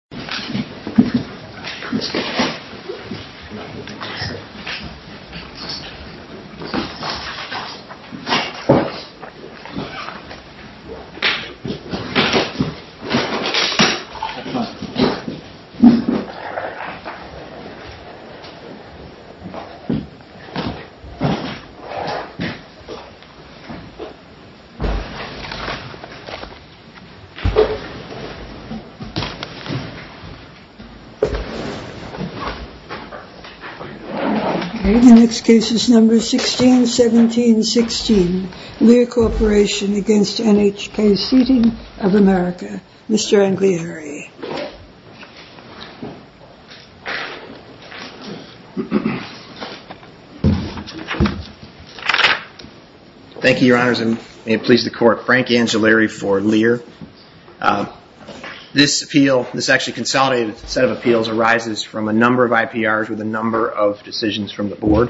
The Seattle Police Department is investigating the death of a member of NHK's Seating of America, Inc. He was a member of NHK's Seating of America, Inc. The next case is number 1617-16, Lear Corporation v. NHK Seating of America. Mr. Angliari. Thank you, Your Honors, and may it please the Court, Frank Angliari for Lear. This appeal, this actually consolidated set of appeals, arises from a number of IPRs with a number of decisions from the Board.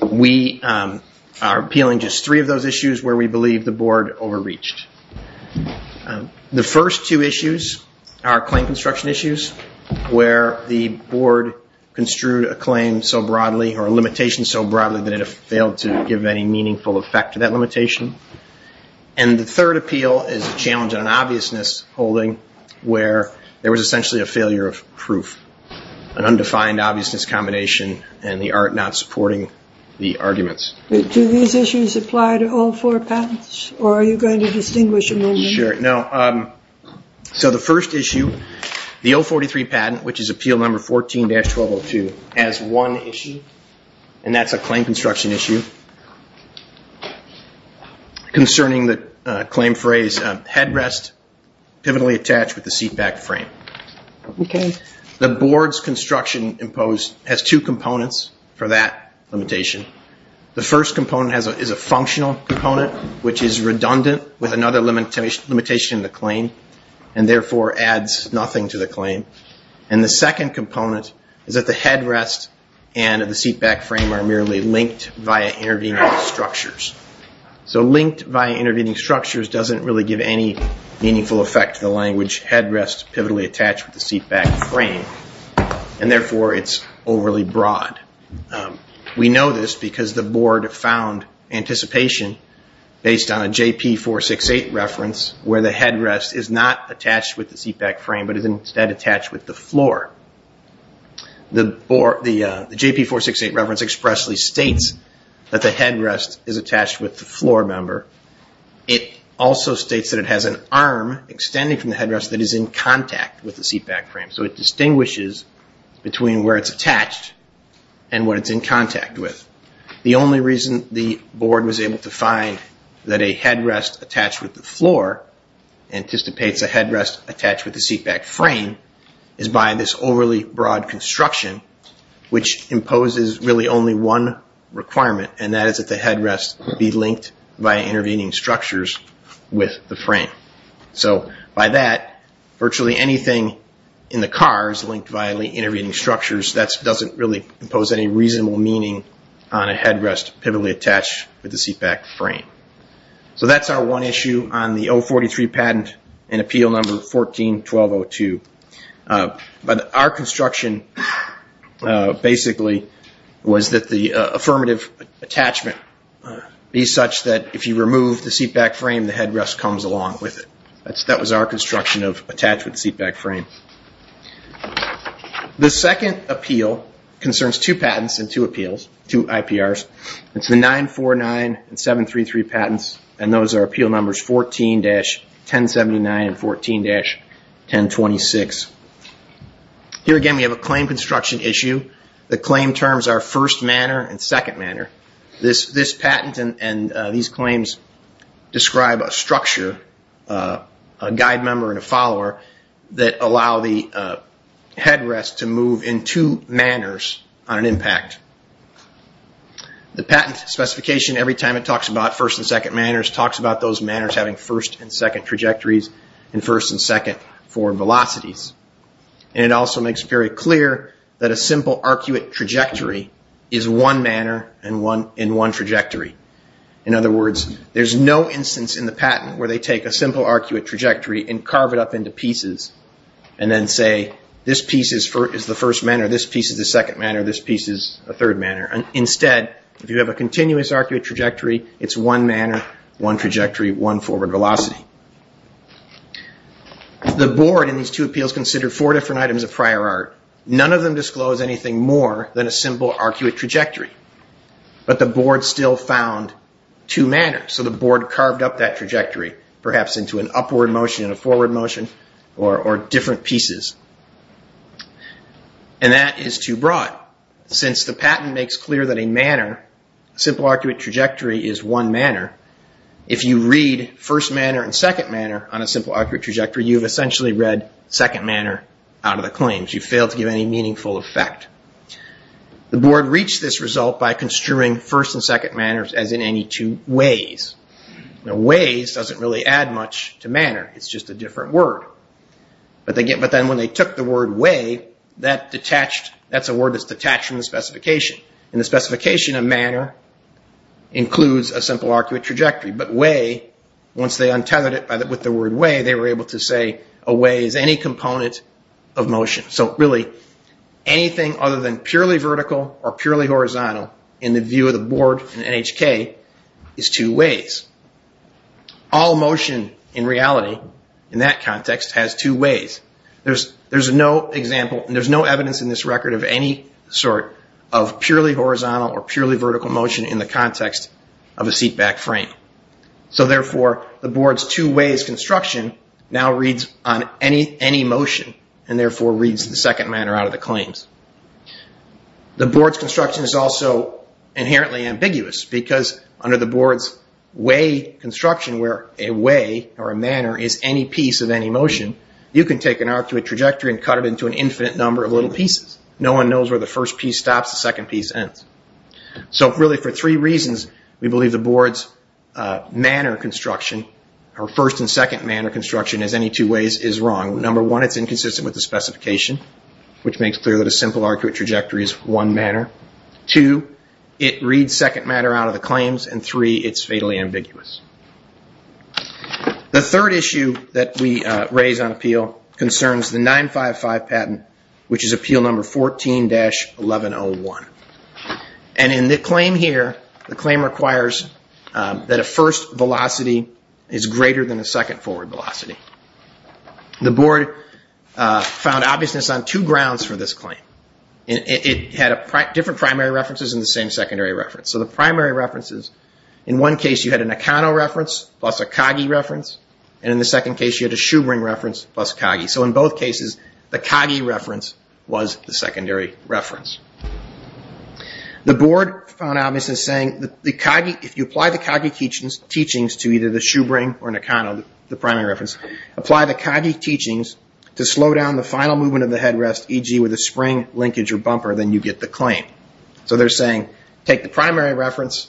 We are appealing just three of those issues where we believe the Board overreached. The first two issues are claim construction issues where the Board construed a claim so broadly or a limitation so broadly that it failed to give any meaningful effect to that limitation. And the third appeal is a challenge on an obviousness holding where there was essentially a failure of proof, an undefined obviousness combination, and the art not supporting the arguments. Do these issues apply to all four patents, or are you going to distinguish among them? Sure. So the first issue, the 043 patent, which is appeal number 14-1202, has one issue, and that's a claim construction issue. It's concerning the claim phrase, headrest, pivotally attached with the seatback frame. The Board's construction imposed has two components for that limitation. The first component is a functional component, which is redundant with another limitation in the claim, and therefore adds nothing to the claim. And the second component is that the headrest and the seatback frame are merely linked via intervening structures. Linked via intervening structures doesn't really give any meaningful effect to the language headrest pivotally attached with the seatback frame, and therefore it's overly broad. We know this because the Board found anticipation based on a JP468 reference where the headrest is not attached with the seatback frame, but is instead attached with the floor. The JP468 reference expressly states that the headrest is attached with the floor member. It also states that it has an arm extending from the headrest that is in contact with the seatback frame. So it distinguishes between where it's attached and what it's in contact with. The only reason the Board was able to find that a headrest attached with the floor anticipates a headrest attached with the seatback frame is by this overarching argument. It's overly broad construction, which imposes really only one requirement, and that is that the headrest be linked via intervening structures with the frame. So by that, virtually anything in the car is linked via intervening structures. That doesn't really impose any reasonable meaning on a headrest pivotally attached with the seatback frame. So that's our one issue on the 043 Patent and Appeal Number 14-1202. But our construction basically was that the affirmative attachment be such that if you remove the seatback frame, the headrest comes along with it. That was our construction of attached with the seatback frame. The second appeal concerns two patents and two appeals, two IPRs. It's the 949 and 733 patents, and those are Appeal Numbers 14-1079 and 14-1026. Here again, we have a claim construction issue. The claim terms are first manner and second manner. This patent and these claims describe a structure, a guide member and a follower, that allow the headrest to move in two manners on an impact. The patent specification, every time it talks about first and second manners, talks about those manners having first and second trajectories and first and second forward velocities. It also makes it very clear that a simple arcuate trajectory is one manner in one trajectory. In other words, there's no instance in the patent where they take a simple arcuate trajectory and carve it up into pieces and then say, this piece is the first manner, this piece is the second manner, this piece is the third manner. Instead, if you have a continuous arcuate trajectory, it's one manner, one trajectory, one forward velocity. The board in these two appeals considered four different items of prior art. None of them disclosed anything more than a simple arcuate trajectory, but the board still found two manners. So the board carved up that trajectory, perhaps into an upward motion and a forward motion, or different pieces. And that is too broad. Since the patent makes clear that a manner, a simple arcuate trajectory, is one manner, if you read first manner and second manner on a simple arcuate trajectory, you have essentially read second manner out of the claims. But you fail to give any meaningful effect. The board reached this result by construing first and second manners as in any two ways. Ways doesn't really add much to manner, it's just a different word. But then when they took the word way, that's a word that's detached from the specification. And the specification of manner includes a simple arcuate trajectory. But way, once they untethered it with the word way, they were able to say a way is any component of motion. So really, anything other than purely vertical or purely horizontal, in the view of the board in NHK, is two ways. All motion in reality, in that context, has two ways. There's no example, there's no evidence in this record of any sort of purely horizontal or purely vertical motion in the context of a seatback frame. So therefore, the board's two ways construction now reads on any motion, and therefore reads the second manner out of the claims. The board's construction is also inherently ambiguous, because under the board's way construction, where a way or a manner is any piece of any motion, you can take an arcuate trajectory and cut it into an infinite number of little pieces. No one knows where the first piece stops, the second piece ends. So really, for three reasons, we believe the board's first and second manner construction, as any two ways, is wrong. Number one, it's inconsistent with the specification, which makes clear that a simple arcuate trajectory is one manner. Two, it reads second manner out of the claims, and three, it's fatally ambiguous. The third issue that we raise on appeal concerns the 955 patent, which is appeal number 14-1101. And in the claim here, the claim requires that a first velocity is greater than a second forward velocity. The board found obviousness on two grounds for this claim. It had different primary references and the same secondary reference. So the primary references, in one case you had a Nakano reference plus a Kagi reference, and in the second case you had a Shubring reference plus Kagi. So in both cases, the Kagi reference was the secondary reference. The board found obviousness saying that if you apply the Kagi teachings to either the Shubring or Nakano, the primary reference, apply the Kagi teachings to slow down the final movement of the headrest, e.g. with a spring, linkage, or bumper, then you get the claim. So they're saying, take the primary reference,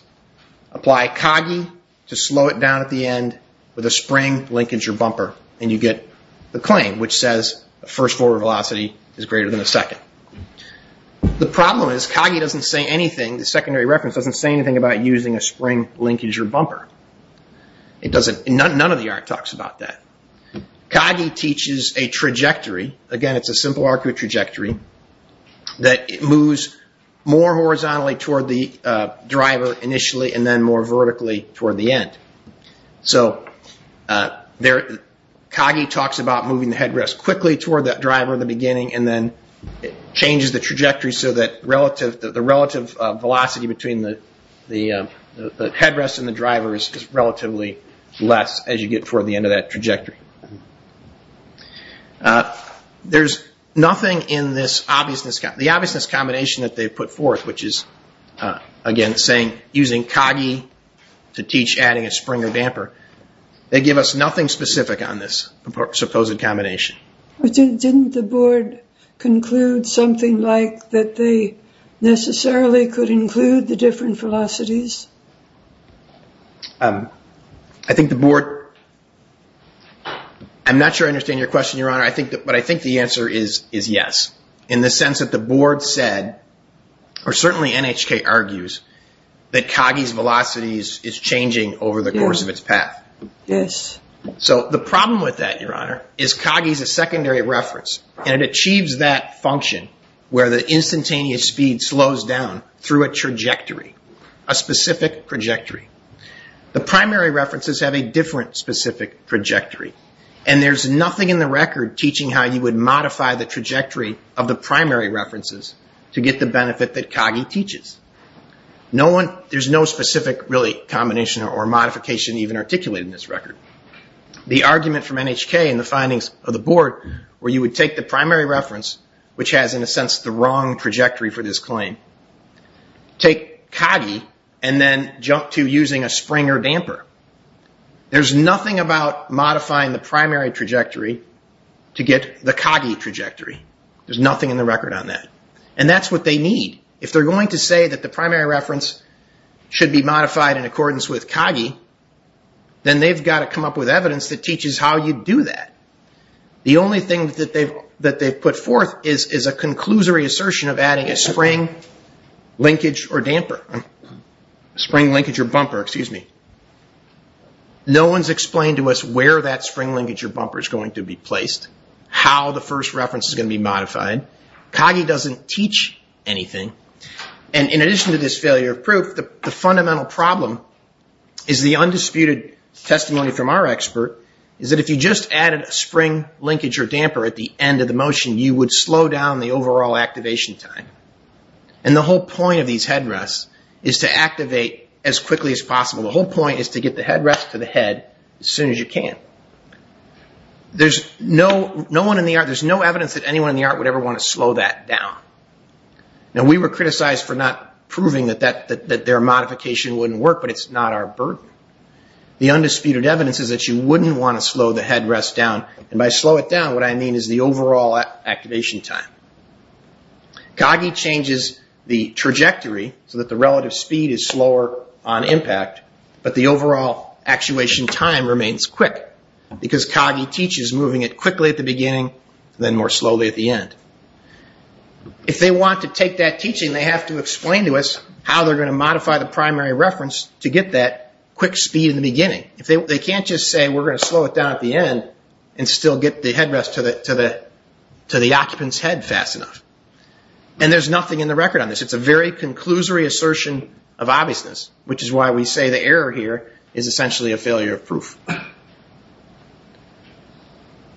apply Kagi to slow it down at the end with a spring, linkage, or bumper, and you get the claim, which says a first forward velocity is greater than a second. The problem is, Kagi doesn't say anything, the secondary reference doesn't say anything about using a spring, linkage, or bumper. None of the art talks about that. Kagi teaches a trajectory, again it's a simple arcuate trajectory, that moves more horizontally toward the driver initially and then more vertically toward the end. Kagi talks about moving the headrest quickly toward the driver in the beginning and then changes the trajectory so that the relative velocity between the headrest and the driver is relatively less as you get toward the end of that trajectory. There's nothing in the obviousness combination that they've put forth, which is, again, using Kagi to teach adding a spring. They give us nothing specific on this supposed combination. I'm not sure I understand your question, Your Honor, but I think the answer is yes, in the sense that the board said, or certainly NHK argues, that Kagi's velocity is changing over the course of time. So the problem with that, Your Honor, is Kagi's a secondary reference, and it achieves that function where the instantaneous speed slows down through a trajectory, a specific trajectory. The primary references have a different specific trajectory, and there's nothing in the record teaching how you would modify the trajectory of the primary references to get the benefit that Kagi teaches. There's no specific combination or modification even articulated in this record. The argument from NHK in the findings of the board, where you would take the primary reference, which has, in a sense, the wrong trajectory for this claim, take Kagi and then jump to using a spring or damper. There's nothing about modifying the primary trajectory to get the Kagi trajectory. There's nothing in the record on that, and that's what they need. If they're going to say that the primary reference should be modified in accordance with Kagi, then they've got to come up with evidence that teaches how you'd do that. The only thing that they've put forth is a conclusory assertion of adding a spring, linkage, or damper. No one's explained to us where that spring, linkage, or bumper is going to be placed, how the first reference is going to be modified. Kagi doesn't teach anything, and in addition to this failure of proof, the fundamental problem is the undisputed testimony from our expert, is that if you just added a spring, linkage, or damper at the end of the motion, you would slow down the overall activation time. And the whole point of these headrests is to activate as quickly as possible. The whole point is to get the headrest to the head as soon as you can. There's no evidence that anyone in the art would ever want to slow that down. Now, we were criticized for not proving that their modification wouldn't work, but it's not our burden. The undisputed evidence is that you wouldn't want to slow the headrest down, and by slow it down, what I mean is the overall activation time. Kagi changes the trajectory so that the relative speed is slower on impact, but the overall actuation time remains quick, because Kagi teaches moving it quickly at the beginning, then more slowly at the end. If they want to take that teaching, they have to explain to us how they're going to modify the primary reference to get that quick speed in the beginning. They can't just say, we're going to slow it down at the end and still get the headrest to the occupant's head fast enough. There's nothing in the record on this. It's a very conclusory assertion of obviousness, which is why we say the error here is essentially a failure of proof.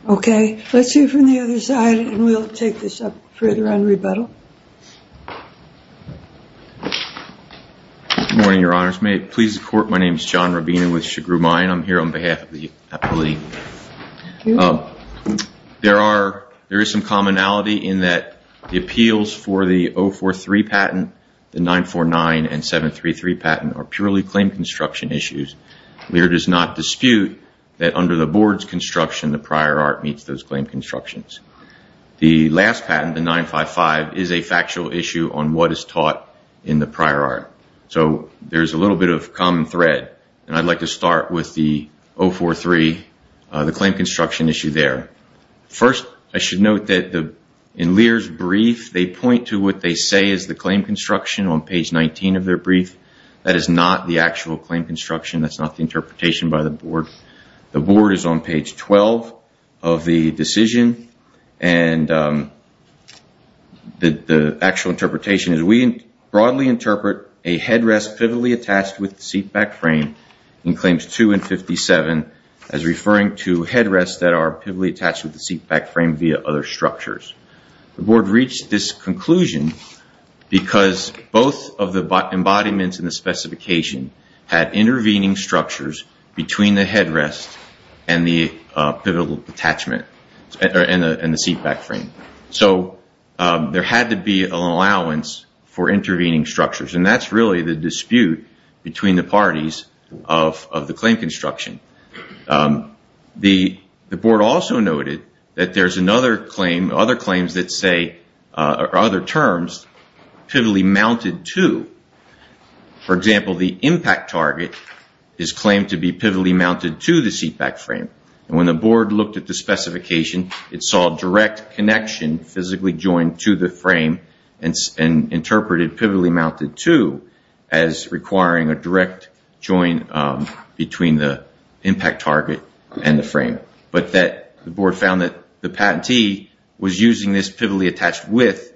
Okay. Let's hear from the other side, and we'll take this up further on rebuttal. Good morning, Your Honors. May it please the Court, my name is John Rabinow with Chigrou Mine. I'm here on behalf of the appellee. There is some commonality in that the appeals for the 043 patent, the 949 and 733 patent are purely claim construction issues. There is not dispute that under the board's construction, the prior art meets those claim constructions. The last patent, the 955, is a factual issue on what is taught in the prior art. So there's a little bit of common thread, and I'd like to start with the 043, the claim construction issue there. First, I should note that in Lear's brief, they point to what they say is the claim construction on page 19 of their brief. That is not the actual claim construction. That's not the interpretation by the board. The board is on page 12 of the decision, and the actual interpretation is, we broadly interpret and interpret the claim construction as a headrest pivotally attached with the seatback frame in claims 2 and 57, as referring to headrests that are pivotally attached with the seatback frame via other structures. The board reached this conclusion because both of the embodiments in the specification had intervening structures between the headrest and the seatback frame. So there had to be an allowance for intervening structures, and that's really the dispute between the parties of the claim construction. The board also noted that there's another claim, other claims that say, or other terms, pivotally mounted to, for example, the impact target is claimed to be pivotally mounted to the seatback frame. When the board looked at the specification, it saw a direct connection, physically joined to the frame, and interpreted pivotally mounted to as requiring a direct join between the impact target and the frame. But the board found that the patentee was using this pivotally attached with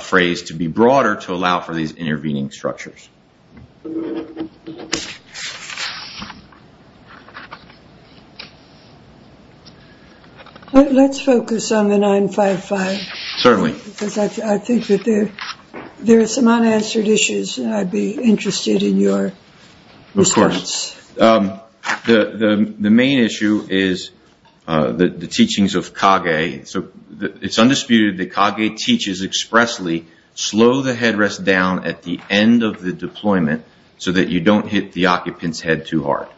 phrase to be broader to allow for these intervening structures. Let's focus on the 955. Certainly. Because I think that there are some unanswered issues, and I'd be interested in your response. Of course. The main issue is the teachings of Kage. It's undisputed that Kage teaches expressly, slow the headrest down at the end of the deployment, so that you don't hit the occupant's head too hard.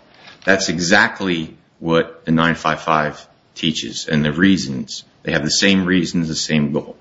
That's exactly what the 955 teaches, and the reasons, they have the same reasons, the same goal.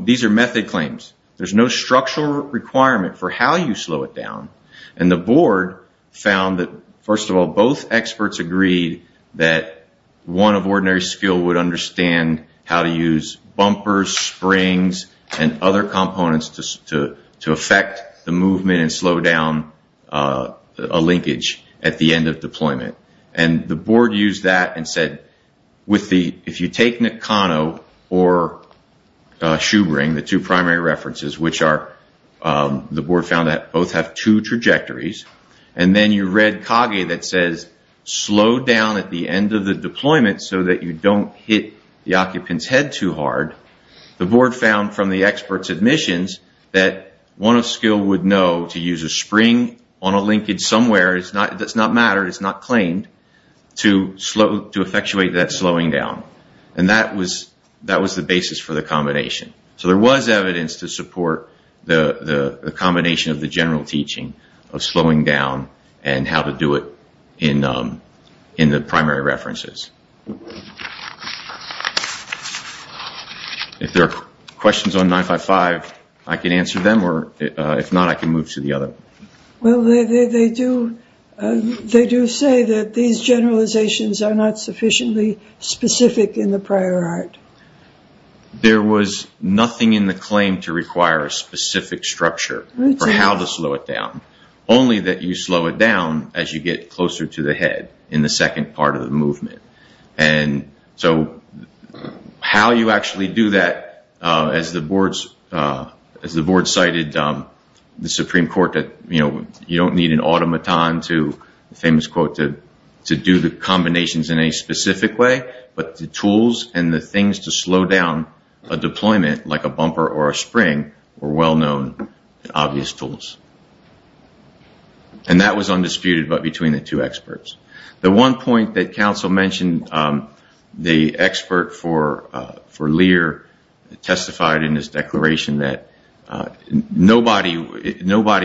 These are method claims. There's no structural requirement for how you slow it down, and the board found that, first of all, both experts agreed that one of ordinary skill would understand how to use bumpers, springs, and other components to affect the movement and slow down a linkage at the end of deployment. The board used that and said, if you take Nakano or Shubring, the two primary references, which are, the board found that both have two trajectories, and then you read Kage that says, slow down at the end of the deployment so that you don't hit the occupant's head too hard. The board found from the expert's admissions that one of skill would know to use a spring on a linkage somewhere. It does not matter, it's not claimed, to effectuate that slowing down, and that was the basis for the combination. So there was evidence to support the combination of the general teaching of slowing down and how to do it in the primary references. If there are questions on 955, I can answer them, or if not, I can move to the other. Well, they do say that these generalizations are not sufficiently specific in the prior art. There was nothing in the claim to require a specific structure for how to slow it down, only that you slow it down as you get closer to the head in the second part of the movement. So how you actually do that, as the board cited the Supreme Court, you don't need an automaton to do the combinations in a specific way, but the tools and the things to slow down a deployment, like a bumper or a spring, were well-known, obvious tools. And that was undisputed between the two experts. The one point that counsel mentioned, the expert for Lear testified in his declaration that nobody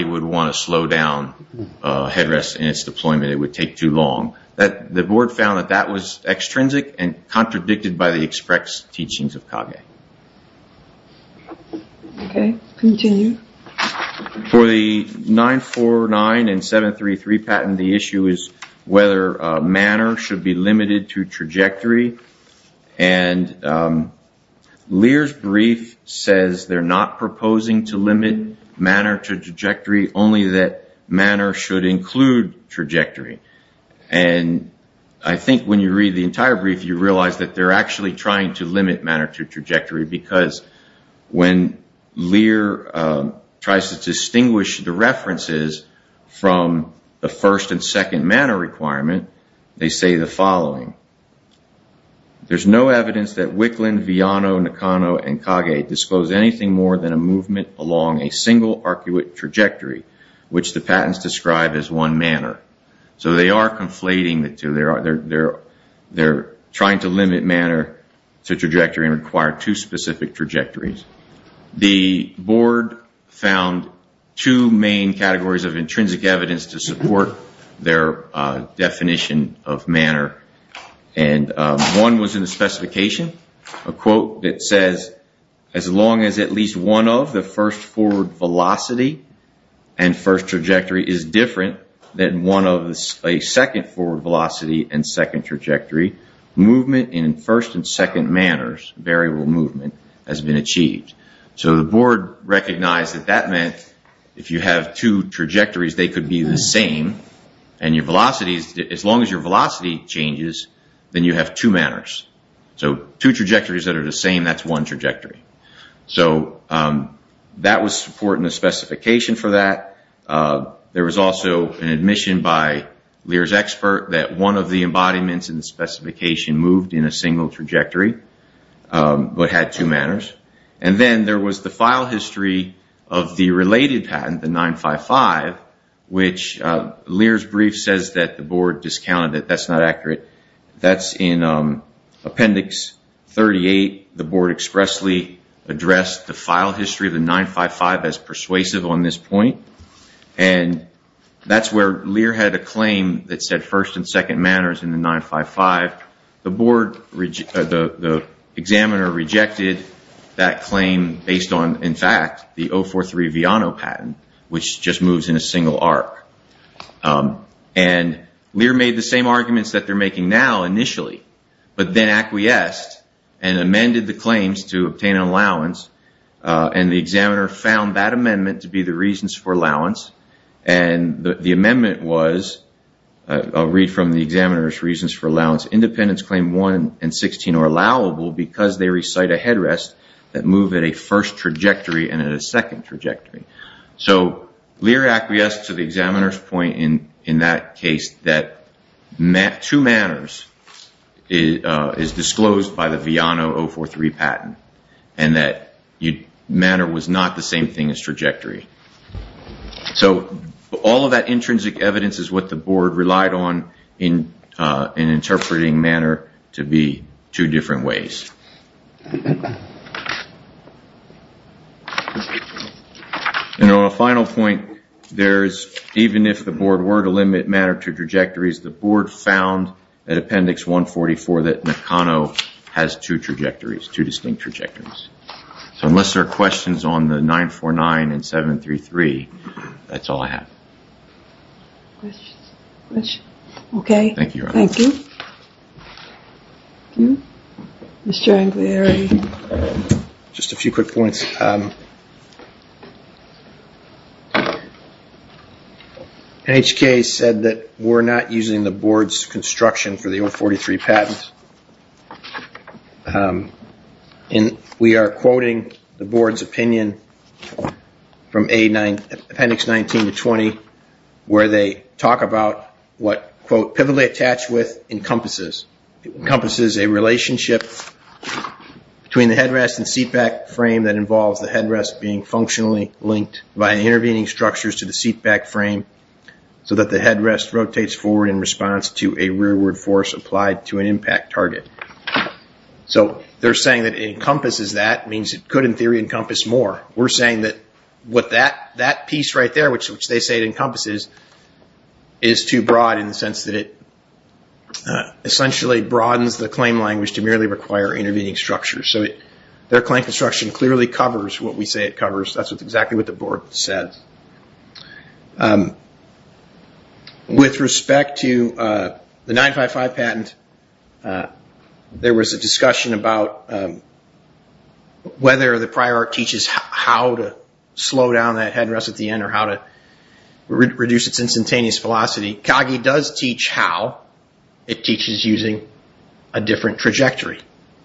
would want to slow down a headrest in its deployment. It would take too long. The board found that that was extrinsic and contradicted by the express teachings of Kage. Okay, continue. For the 949 and 733 patent, the issue is whether manner should be limited to trajectory. And Lear's brief says they're not proposing to limit manner to trajectory, only that manner should include trajectory. And I think when you read the entire brief, you realize that they're actually trying to limit manner to trajectory, because when Lear tries to distinguish the references from the first and second manner requirement, they say the following. There's no evidence that Wicklund, Viano, Nakano, and Kage disclose anything more than a movement along a single arcuate trajectory, which the patents describe as one manner. So they are conflating the two. They're trying to limit manner to trajectory and require two specific trajectories. The board found two main categories of intrinsic evidence to support their definition of manner. And one was in the specification, a quote that says, as long as at least one of the first forward velocity and first trajectory is different than one of a second forward velocity and second trajectory, movement in first and second manners, variable movement, has been achieved. So the board recognized that that meant if you have two trajectories, they could be the same, and as long as your velocity changes, then you have two manners. So two trajectories that are the same, that's one trajectory. So that was supporting the specification for that. There was also an admission by Lear's expert that one of the embodiments in the specification moved in a single trajectory, but had two manners. And then there was the file history of the related patent, the 955, which Lear's brief says that the board discounted it. That's not accurate. That's in appendix 38. The board expressly addressed the file history of the 955 as persuasive on this point. And that's where Lear had a claim that said first and second manners in the 955. The board, the examiner rejected that claim based on, in fact, the 043 Viano patent, which just moves in a single arc. And Lear made the same arguments that they're making now initially, but then acquiesced and amended the claims to obtain an allowance, and the examiner found that amendment to be the reasons for allowance. And the amendment was, I'll read from the examiner's reasons for allowance, independence claim 1 and 16 are allowable because they recite a headrest that move at a first trajectory and at a second trajectory. So Lear acquiesced to the examiner's point in that case that two manners is disclosed by the Viano 043 patent and that manner was not the same thing as trajectory. So all of that intrinsic evidence is what the board relied on in interpreting manner to be two different ways. And on a final point, even if the board were to limit manner to trajectories, the board found at appendix 144 that Nakano has two trajectories, two distinct trajectories. So unless there are questions on the 949 and 733, that's all I have. Okay. Thank you. Thank you. Thank you. Mr. Angliari. Just a few quick points. NHK said that we're not using the board's construction for the 043 patent. And we are quoting the board's opinion from appendix 19 to 20 where they talk about what, quote, pivotally attached with encompasses. It encompasses a relationship between the headrest and seatback frame that involves the headrest being functionally linked by intervening structures to the seatback frame so that the headrest rotates forward in response to a rearward force applied to an impact target. So they're saying that it encompasses that means it could, in theory, encompass more. We're saying that what that piece right there, which they say it encompasses, is too broad in the sense that it essentially broadens the claim language to merely require intervening structures. So their claim construction clearly covers what we say it covers. That's exactly what the board said. With respect to the 955 patent, there was a discussion about whether the Coggy does teach how it teaches using a different trajectory.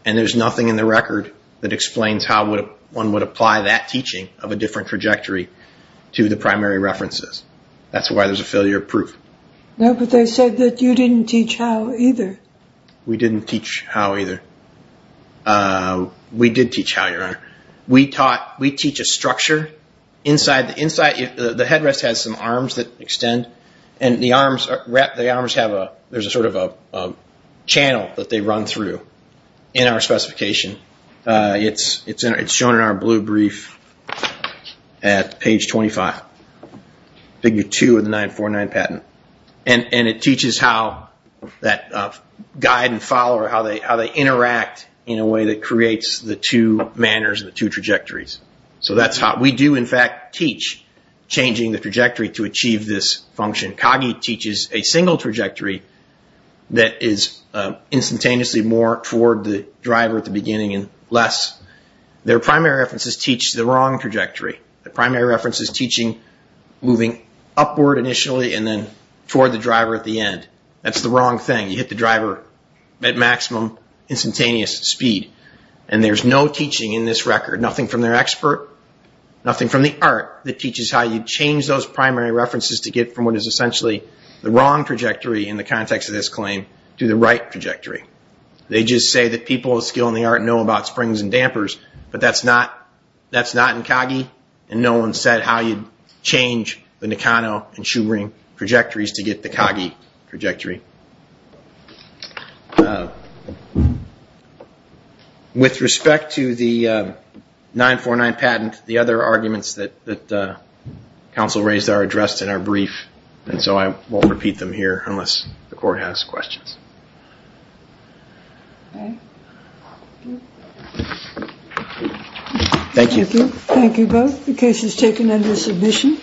And there's nothing in the record that explains how one would apply that teaching of a different trajectory to the primary references. That's why there's a failure of proof. No, but they said that you didn't teach how either. We didn't teach how either. We did teach how, Your Honor. We taught, we teach a structure inside. The headrest has some arms that extend. And the arms have a, there's a sort of a channel that they run through in our specification. It's shown in our blue brief at page 25, figure 2 of the 949 patent. And it teaches how that guide and follower, how they interact in a way that So that's how, we do in fact teach changing the trajectory to achieve this function. Coggy teaches a single trajectory that is instantaneously more toward the driver at the beginning and less. Their primary references teach the wrong trajectory. The primary reference is teaching moving upward initially and then toward the driver at the end. That's the wrong thing. You hit the driver at maximum instantaneous speed. And there's no teaching in this record, nothing from their expert, nothing from the art that teaches how you change those primary references to get from what is essentially the wrong trajectory in the context of this claim to the right trajectory. They just say that people with skill in the art know about springs and dampers, but that's not, that's not in Coggy. And no one said how you'd change the Nakano and Shu-Ring trajectories to get the Coggy trajectory. With respect to the 949 patent, the other arguments that council raised are addressed in our brief, and so I won't repeat them here unless the court has questions. Thank you. Thank you both. The case is taken under submission.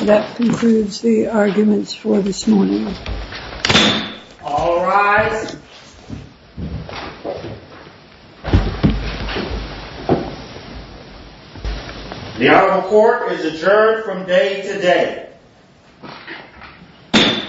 That concludes the arguments for this morning. All rise. The article of court is adjourned from day to day.